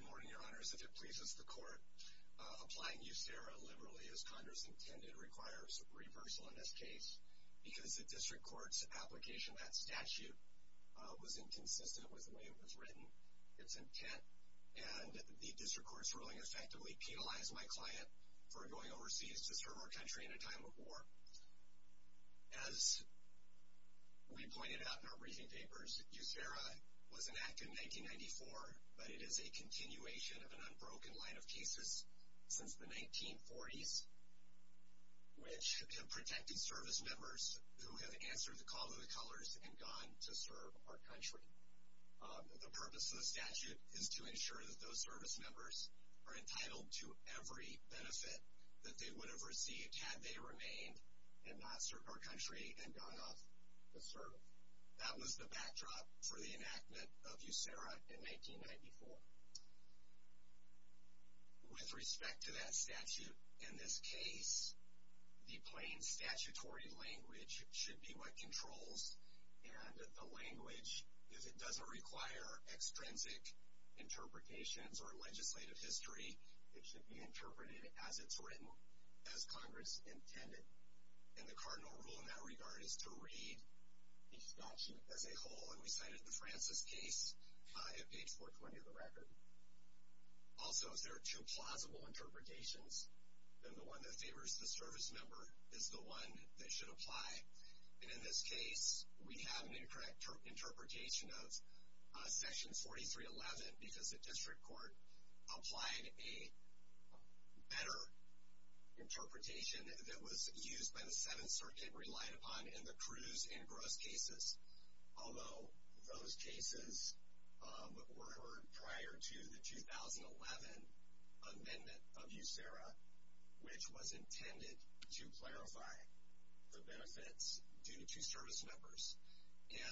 Good morning, Your Honors. If it pleases the Court, applying USERRA liberally, as Congress intended, requires reversal in this case because the District Court's application of that statute was inconsistent with the way it was written, its intent, and the District Court's ruling effectively penalized my client for going overseas to serve our country in a time of war. As we pointed out in our briefing papers, USERRA was enacted in 1994, but it is a continuation of an unbroken line of cases since the 1940s, which have protected service members who have answered the call of the colors and gone to serve our country. The purpose of the statute is to ensure that those service members are entitled to every benefit that they would have received had they remained and not served our country and gone off to serve. That was the backdrop for the enactment of USERRA in 1994. With respect to that statute, in this case, the plain statutory language should be what controls, and the language, if it doesn't require extrinsic interpretations or legislative history, it should be interpreted as it's written. As Congress intended, and the cardinal rule in that regard is to read the statute as a whole, and we cited the Francis case at page 420 of the record. Also, if there are two plausible interpretations, then the one that favors the service member is the one that should apply. In this case, we have an incorrect interpretation of section 4311 because the district court applied a better interpretation that was used by the Seventh Circuit, relied upon in the Cruz and Gross cases, although those cases were heard prior to the 2011 amendment of USERRA, which was intended to clarify the benefits due to service members. Can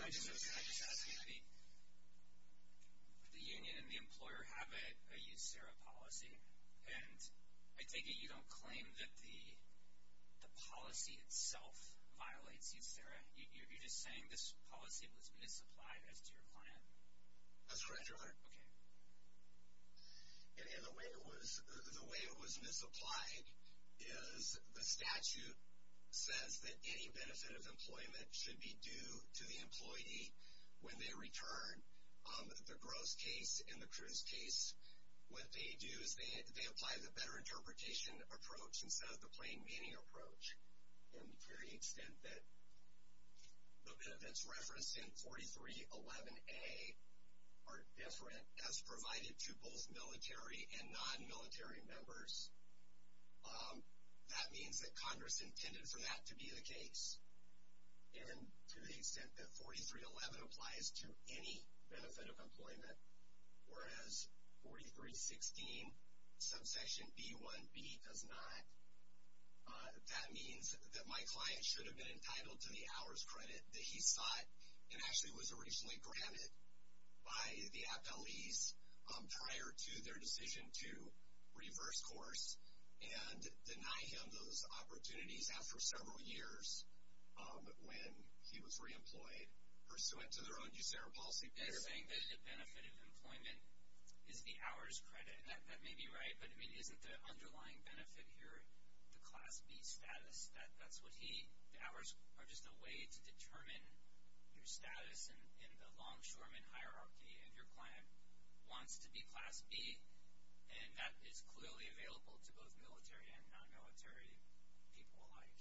I just ask you, the union and the employer have a USERRA policy, and I take it you don't claim that the policy itself violates USERRA? You're just saying this policy was misapplied as to your plan? That's correct, Your Honor. Okay. The way it was misapplied is the statute says that any benefit of employment should be due to the employee when they return. The Gross case and the Cruz case, what they do is they apply the better interpretation approach instead of the plain meaning approach. And to the extent that the benefits referenced in 4311A are different as provided to both military and non-military members, that means that Congress intended for that to be the case. And to the extent that 4311 applies to any benefit of employment, whereas 4316 subsection B1B does not, that means that my client should have been entitled to the hours credit that he sought and actually was originally granted by the appellees prior to their decision to reverse course and deny him those opportunities after several years when he was reemployed pursuant to their own USERRA policy. You're saying that the benefit of employment is the hours credit. That may be right, but, I mean, isn't the underlying benefit here the Class B status? That's what he – the hours are just a way to determine your status in the longshoreman hierarchy, and your client wants to be Class B, and that is clearly available to both military and non-military people alike.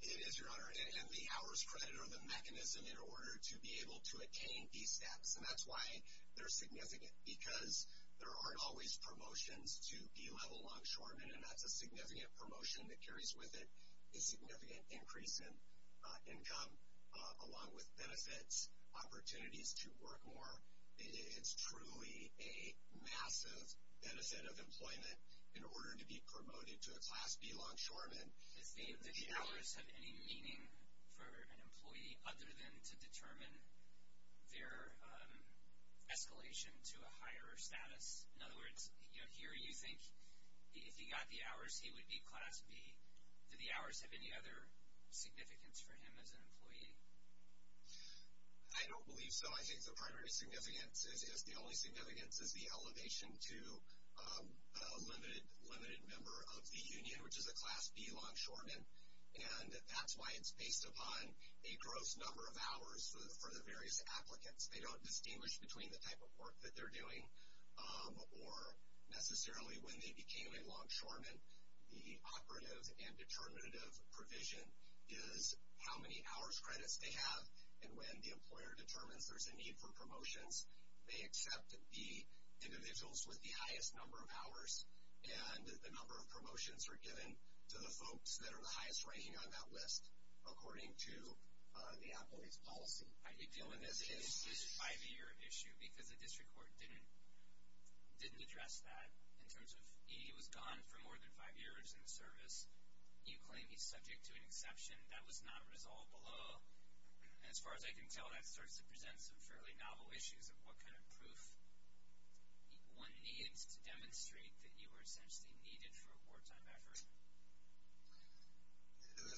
It is, Your Honor, and the hours credit are the mechanism in order to be able to attain these steps, and that's why they're significant because there aren't always promotions to B-level longshoremen, and that's a significant promotion that carries with it a significant increase in income, along with benefits, opportunities to work more. It is truly a massive benefit of employment in order to be promoted to a Class B longshoreman. Does the hours have any meaning for an employee other than to determine their escalation to a higher status? In other words, here you think if he got the hours, he would be Class B. Do the hours have any other significance for him as an employee? I don't believe so. I think the primary significance is the only significance is the elevation to a limited member of the Union, which is a Class B longshoreman, and that's why it's based upon a gross number of hours for the various applicants. They don't distinguish between the type of work that they're doing or necessarily when they became a longshoreman. The operative and determinative provision is how many hours credits they have, and when the employer determines there's a need for promotions, they accept the individuals with the highest number of hours, and the number of promotions are given to the folks that are the highest ranking on that list, according to the employee's policy. I think dealing with this is a five-year issue because the district court didn't address that in terms of he was gone for more than five years in the service. You claim he's subject to an exception. That was not resolved below, and as far as I can tell, that starts to present some fairly novel issues of what kind of proof one needs to demonstrate that you were essentially needed for a wartime effort.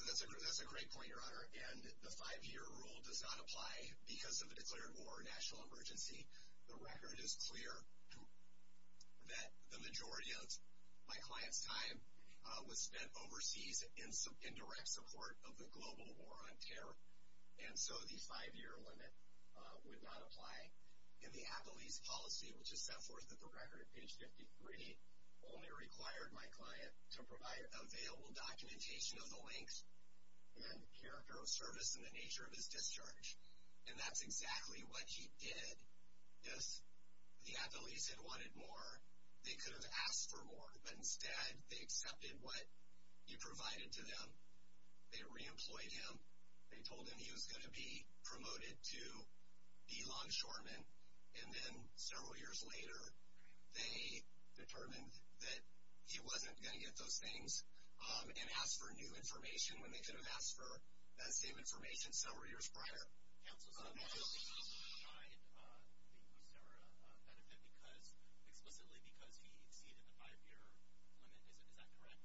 That's a great point, Your Honor, and the five-year rule does not apply because of the declared war or national emergency. The record is clear that the majority of my client's time was spent overseas in direct support of the global war on terror, and so the five-year limit would not apply. In the Applease policy, which is set forth at the record at page 53, only required my client to provide available documentation of the length and character of service and the nature of his discharge, and that's exactly what he did. If the Applease had wanted more, they could have asked for more, but instead they accepted what you provided to them. They reemployed him. They told him he was going to be promoted to be longshoreman, and then several years later they determined that he wasn't going to get those things and asked for new information when they could have asked for that same information several years prior. Counsel, so Applease did not provide the USERRA benefit explicitly because he exceeded the five-year limit, is that correct?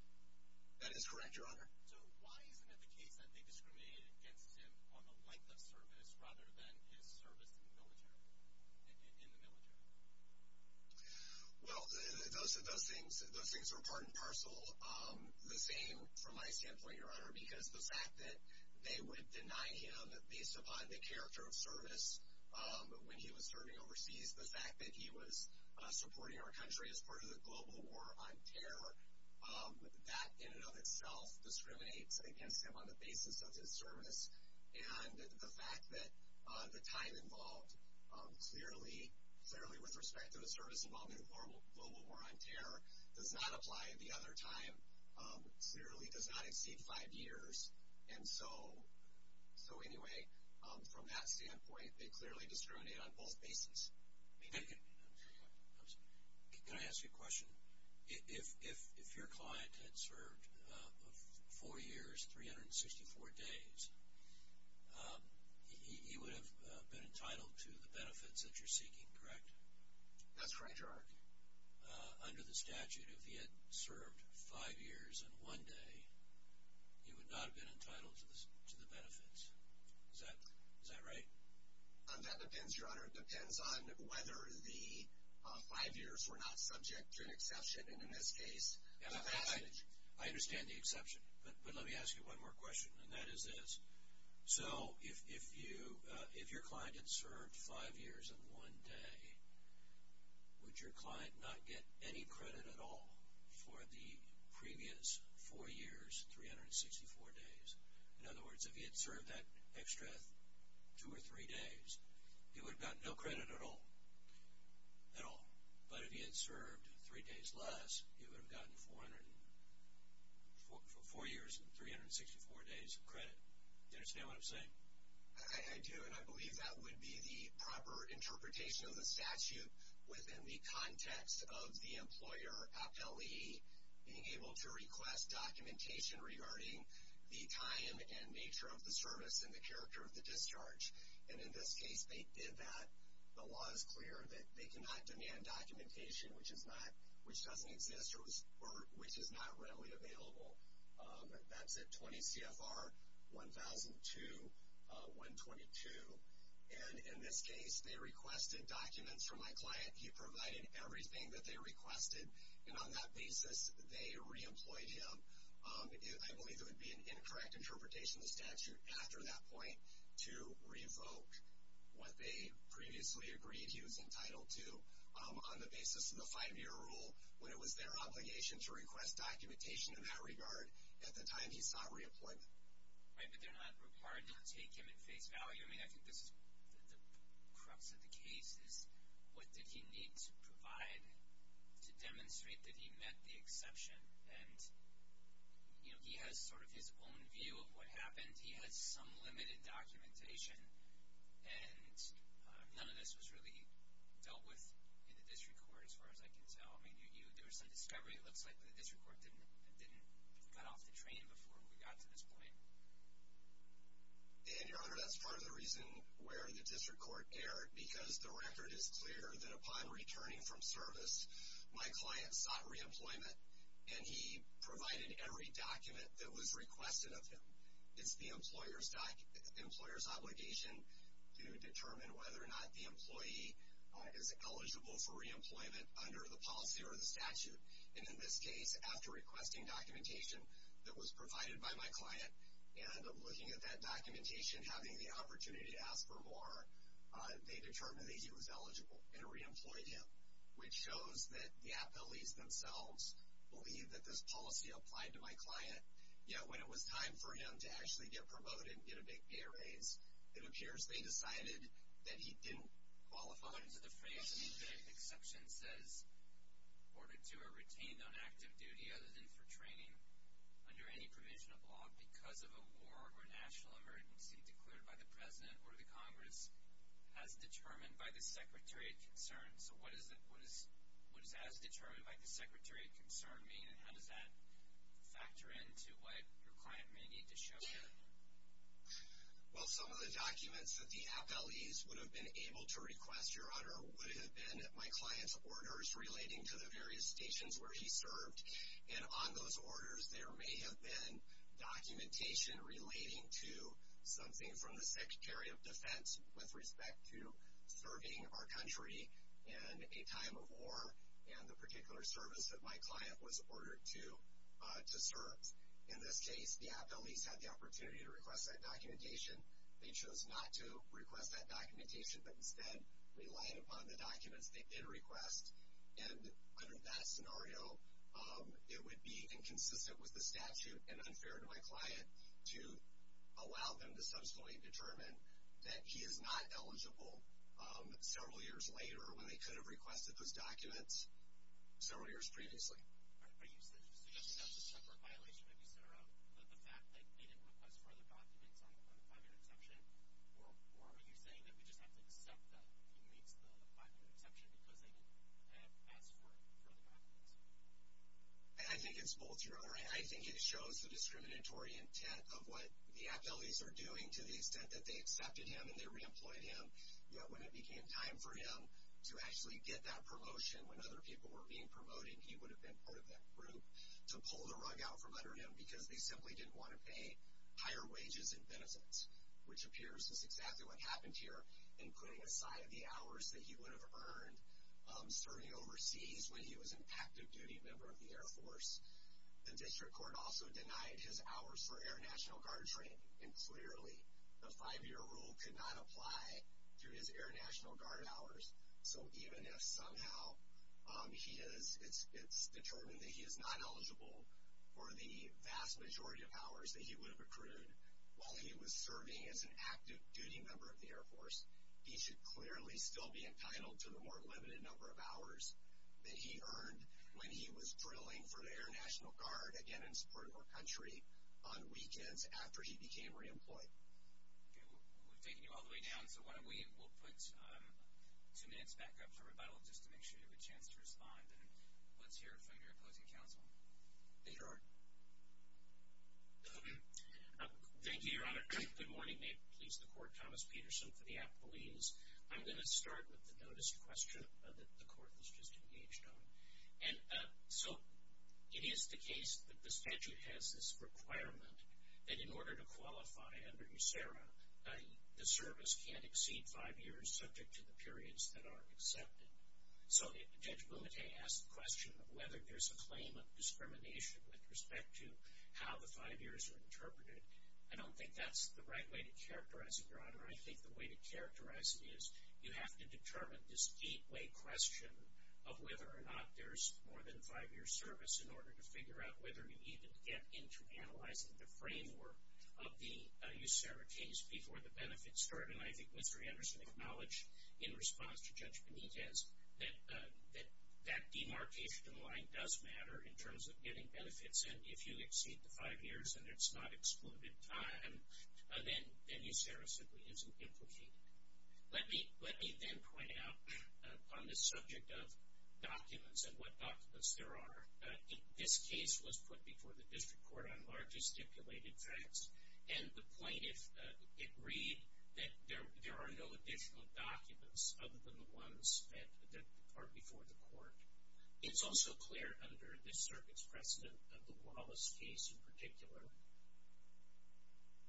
That is correct, Your Honor. So why isn't it the case that they discriminated against him on the length of service rather than his service in the military? Well, those things are part and parcel. The same from my standpoint, Your Honor, because the fact that they would deny him based upon the character of service when he was serving overseas, the fact that he was supporting our country as part of the global war on terror, that in and of itself discriminates against him on the basis of his service, and the fact that the time involved clearly, with respect to the service involved in the global war on terror, does not apply. The other time clearly does not exceed five years. And so, anyway, from that standpoint, they clearly discriminated on both bases. Can I ask you a question? If your client had served four years, 364 days, he would have been entitled to the benefits that you're seeking, correct? That's correct, Your Honor. Under the statute, if he had served five years and one day, he would not have been entitled to the benefits, is that right? That depends, Your Honor. It depends on whether the five years were not subject to an exception. And in this case, the passage. I understand the exception. But let me ask you one more question, and that is this. So if your client had served five years and one day, would your client not get any credit at all for the previous four years, 364 days? In other words, if he had served that extra two or three days, he would have gotten no credit at all, at all. But if he had served three days less, he would have gotten four years and 364 days of credit. Do you understand what I'm saying? I do, and I believe that would be the proper interpretation of the statute within the context of the employer appellee being able to request documentation regarding the time and nature of the service and the character of the discharge. And in this case, they did that. The law is clear that they cannot demand documentation which doesn't exist or which is not readily available. That's at 20 CFR 1002.122. And in this case, they requested documents from my client. He provided everything that they requested, and on that basis, they reemployed him. I believe it would be an incorrect interpretation of the statute after that point to revoke what they previously agreed he was entitled to on the basis of the five-year rule when it was their obligation to request documentation in that regard at the time he sought reappointment. Right, but they're not required to take him at face value. I mean, I think this is the crux of the case is what did he need to provide to demonstrate that he met the exception? And, you know, he has sort of his own view of what happened. He has some limited documentation, and none of this was really dealt with in the district court as far as I can tell. I mean, there was some discovery. It looks like the district court didn't cut off the train before we got to this point. And, Your Honor, that's part of the reason where the district court erred because the record is clear that upon returning from service, my client sought reemployment, and he provided every document that was requested of him. It's the employer's obligation to determine whether or not the employee is eligible for reemployment under the policy or the statute. And in this case, after requesting documentation that was provided by my client, and looking at that documentation, having the opportunity to ask for more, they determined that he was eligible and reemployed him, which shows that the appellees themselves believe that this policy applied to my client. Yet, when it was time for him to actually get promoted and get a big pay raise, it appears they decided that he didn't qualify. According to the phrase, the exception says, Order 2, are retained on active duty other than for training under any provision of law because of a war or national emergency declared by the President or the Congress as determined by the Secretary of Concern. So what does that as determined by the Secretary of Concern mean, and how does that factor into what your client may need to show you? Well, some of the documents that the appellees would have been able to request, Your Honor, would have been my client's orders relating to the various stations where he served, and on those orders there may have been documentation relating to something from the Secretary of Defense with respect to serving our country in a time of war, and the particular service that my client was ordered to serve. In this case, the appellees had the opportunity to request that documentation. They chose not to request that documentation, but instead relied upon the documents they did request. And under that scenario, it would be inconsistent with the statute and unfair to my client to allow them to subsequently determine that he is not eligible. Several years later, when they could have requested those documents several years previously. All right. So that's a separate violation that you set around, the fact that they didn't request further documents on the five-year exception? Or are you saying that we just have to accept that he meets the five-year exception because they didn't ask for further documents? I think it's both, Your Honor. I think it shows the discriminatory intent of what the appellees are doing to the extent that they accepted him and they re-employed him. Yet when it became time for him to actually get that promotion, when other people were being promoted, he would have been part of that group to pull the rug out from under him because they simply didn't want to pay higher wages and benefits, which appears is exactly what happened here, including a side of the hours that he would have earned serving overseas when he was an active duty member of the Air Force. The district court also denied his hours for Air National Guard training, and clearly the five-year rule could not apply to his Air National Guard hours. So even if somehow it's determined that he is not eligible for the vast majority of hours that he would have accrued while he was serving as an active duty member of the Air Force, he should clearly still be entitled to the more limited number of hours that he earned when he was drilling for the Air National Guard, again in support of our country, on weekends after he became re-employed. Okay, we're taking you all the way down, so why don't we put two minutes back up for rebuttal just to make sure you have a chance to respond, and let's hear from your opposing counsel. Theodore. Thank you, Your Honor. Good morning. May it please the Court, Thomas Peterson for the appellees. I'm going to start with the notice of question that the Court has just engaged on. So it is the case that the statute has this requirement that in order to qualify under USERRA, the service can't exceed five years subject to the periods that are accepted. So Judge Bumate asked the question of whether there's a claim of discrimination with respect to how the five years are interpreted. I don't think that's the right way to characterize it, Your Honor. I think the way to characterize it is you have to determine this gateway question of whether or not there's more than a five-year service in order to figure out whether you even get into analyzing the framework of the USERRA case before the benefits start, and I think Mr. Anderson acknowledged in response to Judge Bumate's that that demarcation line does matter in terms of getting benefits, and if you exceed the five years and it's not excluded time, then USERRA simply isn't implicated. Let me then point out on the subject of documents and what documents there are. This case was put before the district court on largely stipulated facts, and the plaintiff agreed that there are no additional documents other than the ones that are before the court. It's also clear under this circuit's precedent of the Wallace case in particular that there are no additional documents other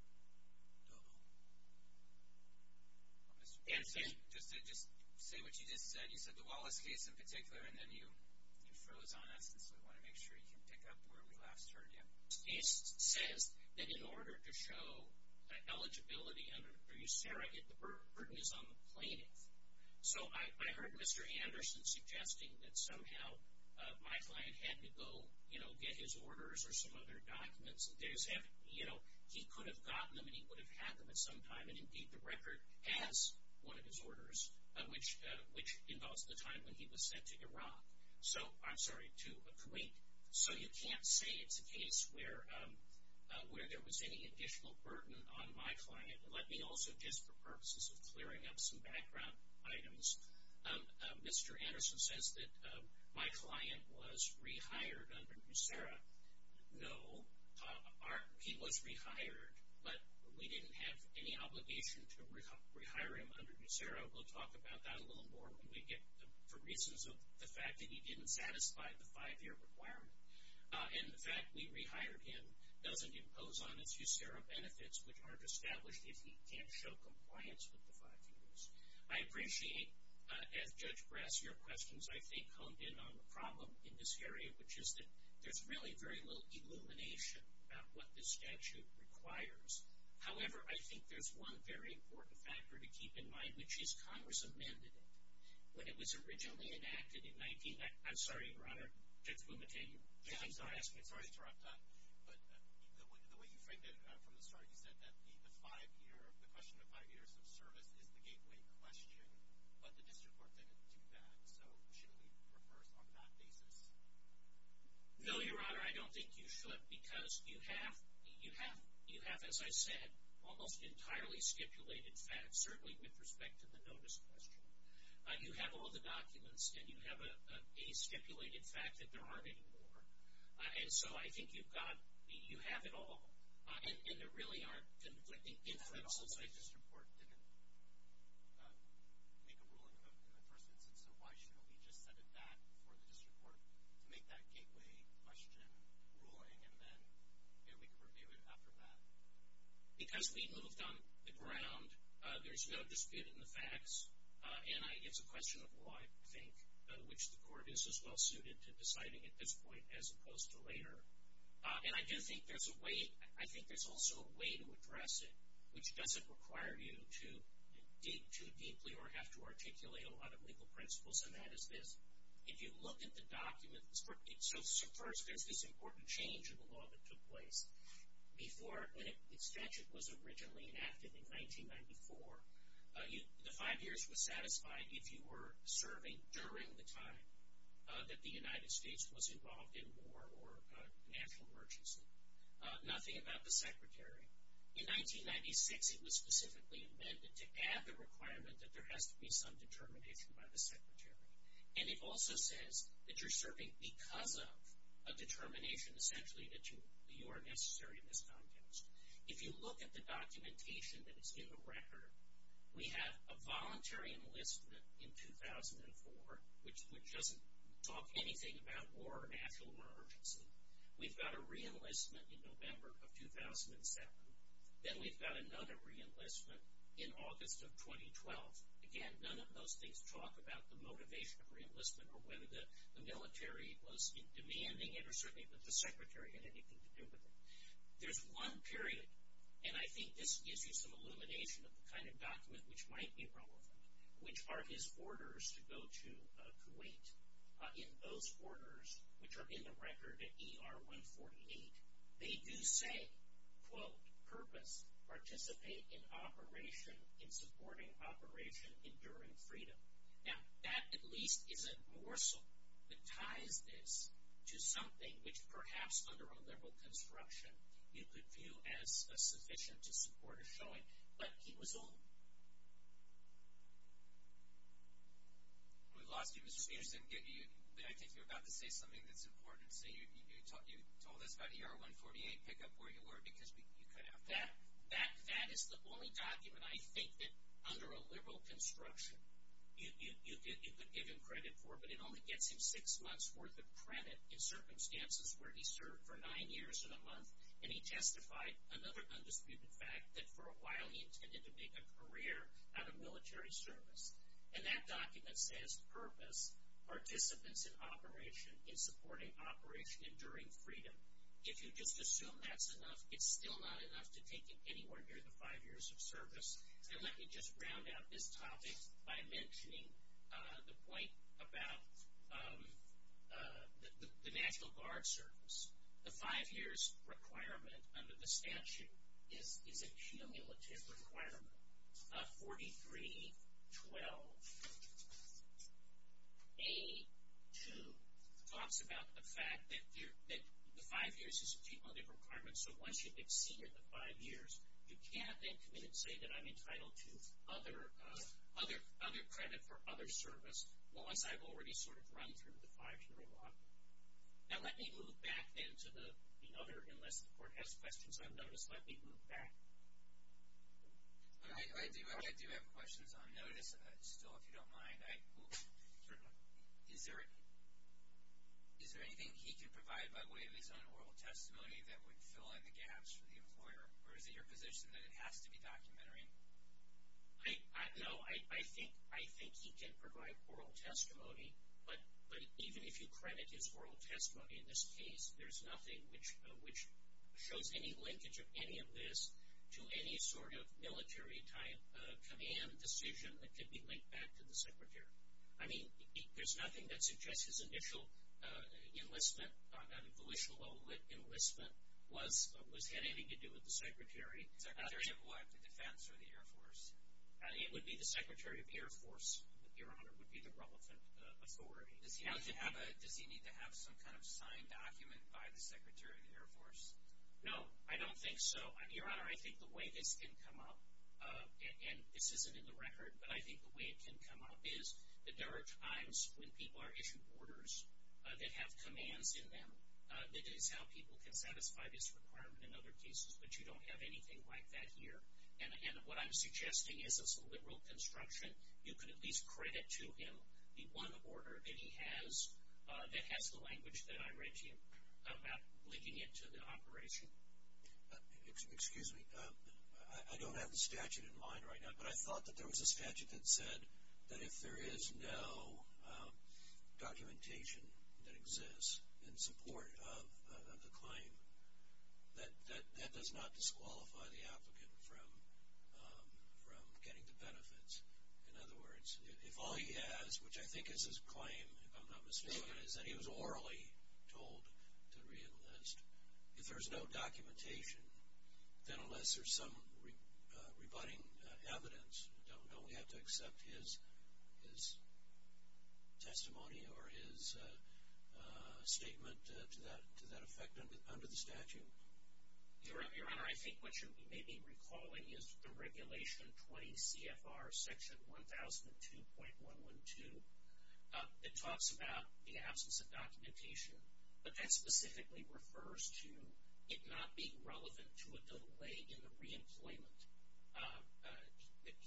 than the ones that are before the court. And just to say what you just said, you said the Wallace case in particular, and then you froze on us, and so we want to make sure you can pick up where we last heard you. This case says that in order to show eligibility under USERRA, the burden is on the plaintiff. So I heard Mr. Anderson suggesting that somehow my client had to go, you know, get his orders or some other documents. You know, he could have gotten them and he would have had them at some time, and indeed the record adds one of his orders, which involves the time when he was sent to Iraq. So, I'm sorry, to Kuwait. So you can't say it's a case where there was any additional burden on my client. Let me also, just for purposes of clearing up some background items, Mr. Anderson says that my client was rehired under USERRA. No, he was rehired, but we didn't have any obligation to rehire him under USERRA. We'll talk about that a little more when we get to reasons of the fact that he didn't satisfy the five-year requirement. And the fact we rehired him doesn't impose on us USERRA benefits, which aren't established if he can't show compliance with the five years. I appreciate, as Judge Grass, your questions, I think, honed in on the problem in this area, which is that there's really very little illumination about what this statute requires. However, I think there's one very important factor to keep in mind, which is Congress amended it. When it was originally enacted in 19—I'm sorry, Your Honor, Judge Bumate, you— I'm sorry to interrupt, but the way you framed it from the start, you said that the five-year—the question of five years of service is the gateway question, but the district court didn't do that, so should we rehearse on that basis? No, Your Honor, I don't think you should, because you have, as I said, almost entirely stipulated facts, certainly with respect to the notice question. You have all the documents, and you have a stipulated fact that there aren't any more. And so I think you've got—you have it all, and there really aren't conflicting inferences. But the district court didn't make a ruling about it in the first instance, so why shouldn't we just set it at that for the district court to make that gateway question ruling, and then we can review it after that? Because we moved on the ground. There's no dispute in the facts, and it's a question of why I think which court is as well-suited to deciding at this point as opposed to later. And I do think there's a way—I think there's also a way to address it, which doesn't require you to dig too deeply or have to articulate a lot of legal principles, and that is this. If you look at the documents—so first there's this important change in the law that took place. Before, when the statute was originally enacted in 1994, the five years was satisfied if you were serving during the time that the United States was involved in war or a national emergency. Nothing about the secretary. In 1996, it was specifically amended to add the requirement that there has to be some determination by the secretary. And it also says that you're serving because of a determination, essentially, that you are necessary in this context. If you look at the documentation that is in the record, we have a voluntary enlistment in 2004, which doesn't talk anything about war or a national emergency. We've got a re-enlistment in November of 2007. Then we've got another re-enlistment in August of 2012. Again, none of those things talk about the motivation of re-enlistment or whether the military was demanding it or certainly if the secretary had anything to do with it. There's one period, and I think this gives you some illumination of the kind of document which might be relevant, which are his orders to go to Kuwait. In those orders, which are in the record at ER 148, they do say, quote, purpose, participate in operation, in supporting operation, enduring freedom. Now, that at least isn't more so. It ties this to something which perhaps under a liberal construction, you could view as sufficient to support a showing, but he was older. We lost you, Mr. Spears. I think you were about to say something that's important. You told us about ER 148, pick up where you were, because you could have that. That is the only document I think that under a liberal construction you could give him credit for, but it only gets him six months' worth of credit in circumstances where he served for nine years in a month and he testified, another undisputed fact, that for a while he intended to make a career out of military service. And that document says, purpose, participants in operation, in supporting operation, enduring freedom. If you just assume that's enough, it's still not enough to take him anywhere near the five years of service. And let me just round out this topic by mentioning the point about the National Guard service. The five years requirement under the statute is a cumulative requirement. 43-12-82 talks about the fact that the five years is a cumulative requirement, so once you've exceeded the five years, you can't then come in and say that I'm entitled to other credit for other service, unless I've already sort of run through the five-year law. Now let me move back then to the other, unless the Court has questions on notice, let me move back. I do have questions on notice still, if you don't mind. Is there anything he can provide by way of his own oral testimony that would fill in the gaps for the employer, or is it your position that it has to be documentary? No, I think he can provide oral testimony, but even if you credit his oral testimony in this case, there's nothing which shows any linkage of any of this to any sort of military type command decision that could be linked back to the Secretary. I mean, there's nothing that suggests his initial enlistment on a volitional level enlistment had anything to do with the Secretary. The Secretary of what? The Defense or the Air Force. It would be the Secretary of the Air Force, Your Honor, would be the relevant authority. Does he need to have some kind of signed document by the Secretary of the Air Force? No, I don't think so. Your Honor, I think the way this can come up, and this isn't in the record, but I think the way it can come up is that there are times when people are issued orders that have commands in them. That is how people can satisfy this requirement in other cases, but you don't have anything like that here. And what I'm suggesting is as a liberal construction, you can at least credit to him the one order that he has that has the language that I read to you about linking it to the operation. Excuse me. I don't have the statute in mind right now, but I thought that there was a statute that said that if there is no documentation that exists in support of the claim, that that does not disqualify the applicant from getting the benefits. In other words, if all he has, which I think is his claim, if I'm not mistaken, is that he was orally told to reenlist, if there's no documentation, then unless there's some rebutting evidence, don't we have to accept his testimony or his statement to that effect under the statute? Your Honor, I think what you may be recalling is the Regulation 20 CFR Section 1002.112. It talks about the absence of documentation, but that specifically refers to it not being relevant to a delay in the reemployment.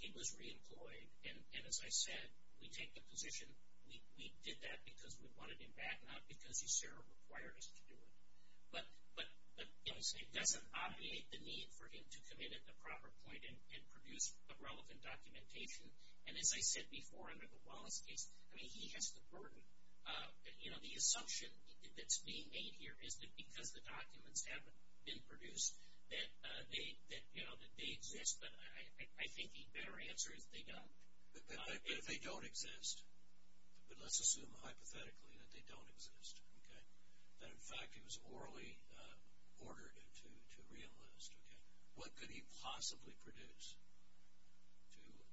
He was reemployed, and as I said, we take the position we did that because we wanted him back, not because you said it required us to do it. But it doesn't obviate the need for him to commit at the proper point and produce a relevant documentation. And as I said before, under the Wallace case, I mean, he has the burden. You know, the assumption that's being made here is that because the documents haven't been produced, that they exist, but I think the better answer is they don't. But if they don't exist, but let's assume hypothetically that they don't exist, okay, that in fact he was orally ordered to reenlist, okay, what could he possibly produce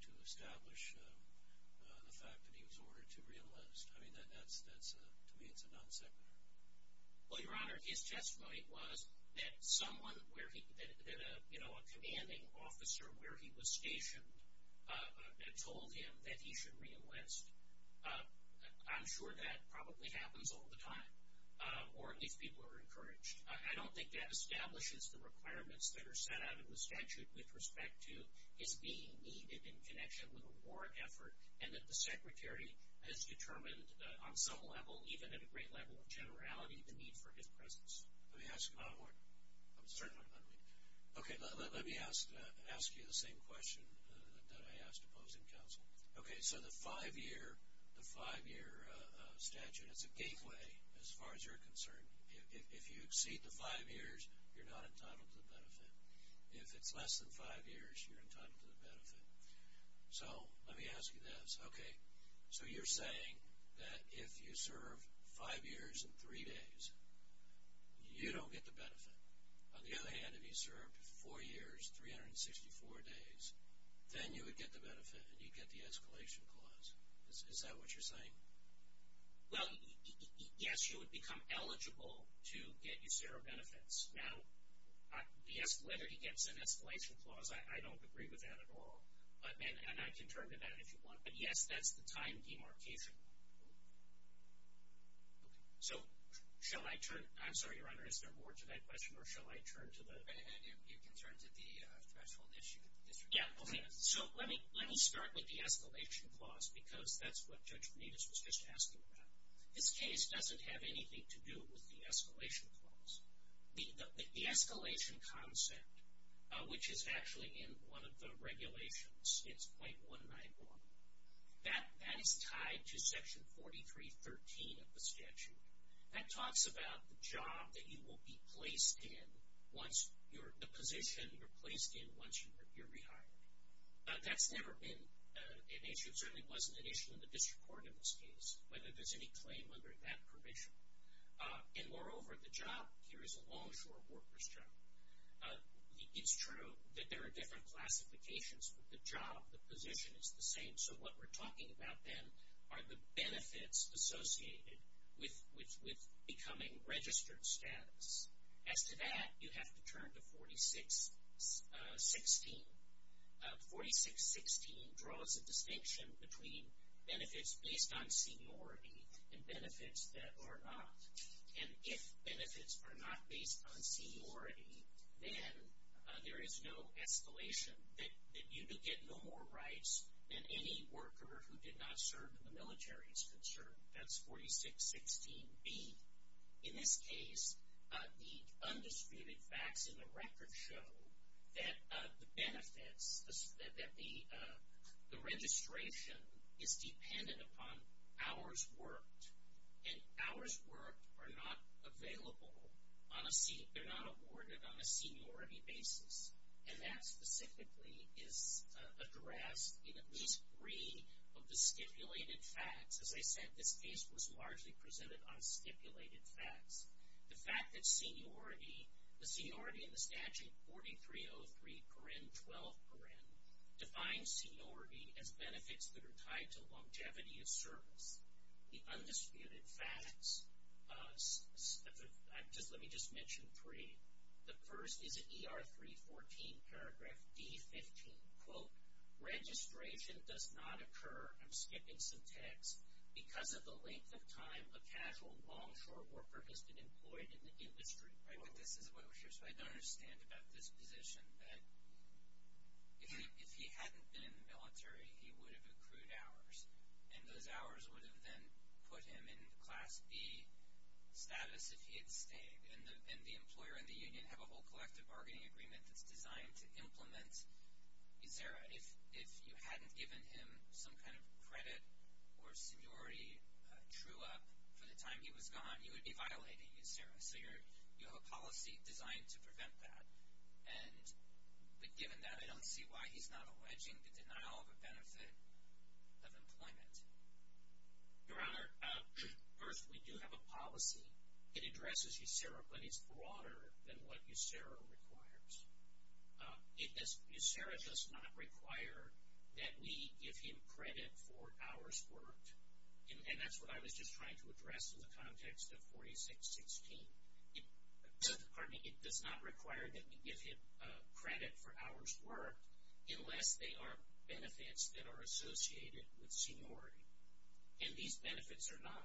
to establish the fact that he was ordered to reenlist? I mean, to me it's a non-sequitur. Well, Your Honor, his testimony was that someone where he, you know, a commanding officer where he was stationed had told him that he should reenlist. I'm sure that probably happens all the time, or at least people are encouraged. I don't think that establishes the requirements that are set out in the statute with respect to his being needed in connection with a war effort, and that the Secretary has determined on some level, even at a great level of generality, the need for his presence. Let me ask another one. Okay, let me ask you the same question that I asked opposing counsel. Okay, so the five-year statute is a gateway as far as you're concerned. If you exceed the five years, you're not entitled to the benefit. If it's less than five years, you're entitled to the benefit. So let me ask you this. Okay, so you're saying that if you serve five years and three days, you don't get the benefit. On the other hand, if you served four years, 364 days, then you would get the benefit and you'd get the escalation clause. Is that what you're saying? Well, yes, you would become eligible to get your zero benefits. Now, whether he gets an escalation clause, I don't agree with that at all. And I can turn to that if you want. But, yes, that's the time demarcation. So shall I turn? I'm sorry, Your Honor, is there more to that question, or shall I turn to the? You can turn to the threshold issue. So let me start with the escalation clause, because that's what Judge Benitez was just asking about. This case doesn't have anything to do with the escalation clause. The escalation concept, which is actually in one of the regulations, it's 0.191, that is tied to Section 4313 of the statute. That talks about the job that you will be placed in once you're, the position you're placed in once you're rehired. That's never been an issue. It certainly wasn't an issue in the district court in this case, whether there's any claim under that provision. And, moreover, the job here is a longshore workers' job. It's true that there are different classifications, but the job, the position, is the same. So what we're talking about then are the benefits associated with becoming registered status. As to that, you have to turn to 4616. 4616 draws a distinction between benefits based on seniority and benefits that are not. And if benefits are not based on seniority, then there is no escalation that you will get no more rights than any worker who did not serve in the military is concerned. That's 4616B. In this case, the undisputed facts in the record show that the benefits, that the registration is dependent upon hours worked. And hours worked are not available on a seat. They're not awarded on a seniority basis. And that specifically is addressed in at least three of the stipulated facts. As I said, this case was largely presented on stipulated facts. The fact that seniority, the seniority in the statute 4303, 12, defines seniority as benefits that are tied to longevity of service. The undisputed facts, let me just mention three. The first is in ER 314, paragraph D15, quote, registration does not occur, I'm skipping some text, because of the length of time a casual longshore worker has been employed in the industry. Right, this is what I'm sure, so I don't understand about this position, that if he hadn't been in the military, he would have accrued hours. And those hours would have then put him in class B status if he had stayed. And the employer and the union have a whole collective bargaining agreement that's designed to implement USERRA. If you hadn't given him some kind of credit or seniority true up for the time he was gone, you would be violating USERRA. So you have a policy designed to prevent that. But given that, I don't see why he's not alleging the denial of a benefit of employment. Your Honor, first, we do have a policy. It addresses USERRA, but it's broader than what USERRA requires. USERRA does not require that we give him credit for hours worked. And that's what I was just trying to address in the context of 4616. It does not require that we give him credit for hours worked unless they are benefits that are associated with seniority. And these benefits are not.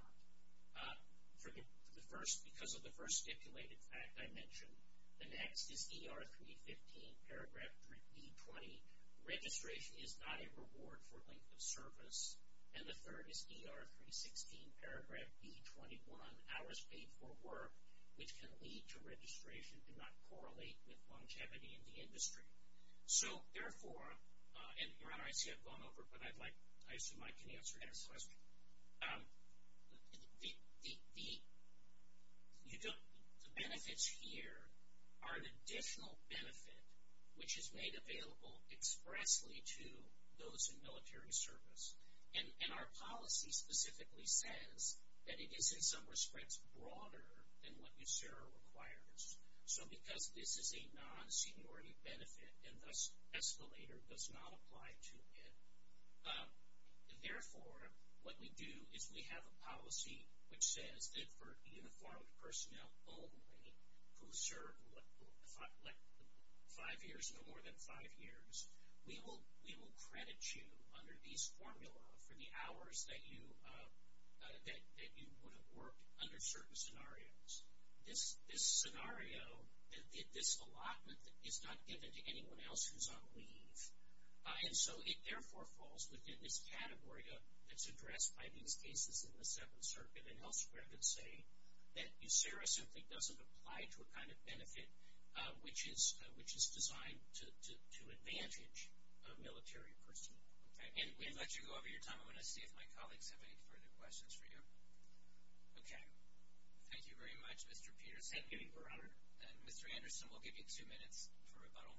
Because of the first stipulated fact I mentioned, the next is ER 315, paragraph D20, and the third is ER 316, paragraph B21, hours paid for work, which can lead to registration, do not correlate with longevity in the industry. So, therefore, and Your Honor, I see I've gone over, but I'd like, I assume Mike can answer this question. The benefits here are an additional benefit which is made available expressly to those in military service. And our policy specifically says that it is, in some respects, broader than what USERRA requires. So because this is a non-seniority benefit, and thus escalator does not apply to it, therefore what we do is we have a policy which says that for uniformed personnel only, who serve five years or more than five years, we will credit you under these formulas for the hours that you would have worked under certain scenarios. This scenario, this allotment is not given to anyone else who's on leave. And so it, therefore, falls within this category that's addressed by these cases in the Seventh Circuit. And elsewhere it would say that USERRA simply doesn't apply to a kind of benefit which is designed to advantage a military person. Okay. And we'll let you go over your time. I'm going to see if my colleagues have any further questions for you. Okay. Thank you very much, Mr. Peterson. Thank you, Your Honor. Mr. Anderson, we'll give you two minutes for rebuttal.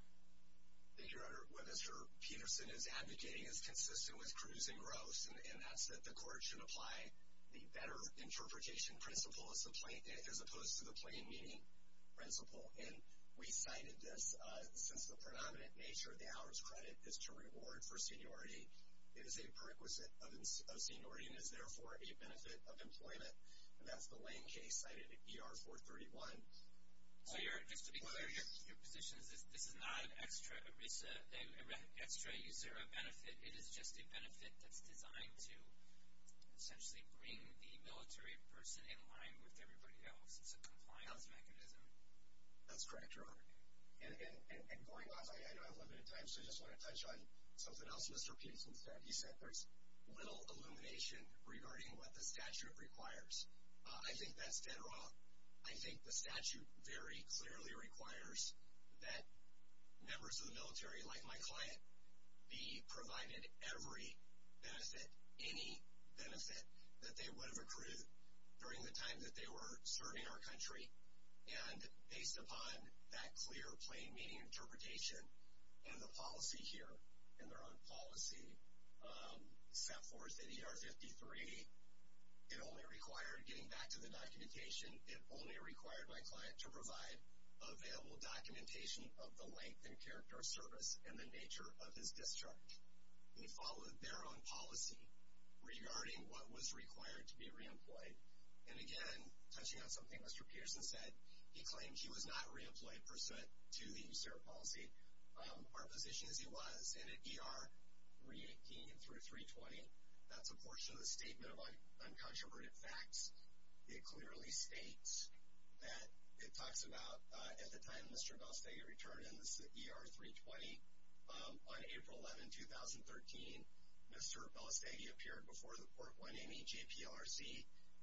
Thank you, Your Honor. What Mr. Peterson is advocating is consistent with Cruz and Gross, and that's that the court should apply the better interpretation principle as opposed to the plain meaning principle. And we cited this. Since the predominant nature of the hours credit is to reward for seniority, it is a prerequisite of seniority and is, therefore, a benefit of employment. And that's the Lane case cited at ER-431. Well, your position is this is not an extra USERRA benefit. It is just a benefit that's designed to essentially bring the military person in line with everybody else. It's a compliance mechanism. That's correct, Your Honor. And going on, I know I have limited time, so I just want to touch on something else Mr. Peterson said. He said there's little illumination regarding what the statute requires. I think that's dead wrong. I think the statute very clearly requires that members of the military, like my client, be provided every benefit, any benefit that they would have accrued during the time that they were serving our country. And based upon that clear plain meaning interpretation and the policy here and their own policy set forth at ER-53, it only required, getting back to the documentation, it only required my client to provide available documentation of the length and character of service and the nature of his discharge. He followed their own policy regarding what was required to be reemployed. And, again, touching on something Mr. Pearson said, he claimed he was not reemployed pursuant to the USERRA policy. Our position is he was, and at ER-318 through 320, that's a portion of the statement of uncontroverted facts. It clearly states that it talks about at the time Mr. Balestagi returned in this ER-320, on April 11, 2013, Mr. Balestagi appeared before the Port 180 JPRC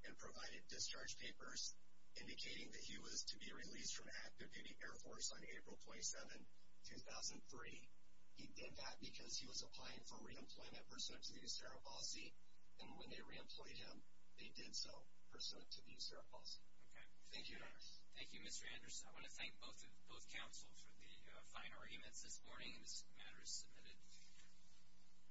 and provided discharge papers indicating that he was to be released from active duty Air Force on April 27, 2003. He did that because he was applying for reemployment pursuant to the USERRA policy, and when they reemployed him, they did so pursuant to the USERRA policy. Thank you, Your Honors. Thank you, Mr. Anderson. I want to thank both counsel for the fine arguments this morning, and this matter is submitted.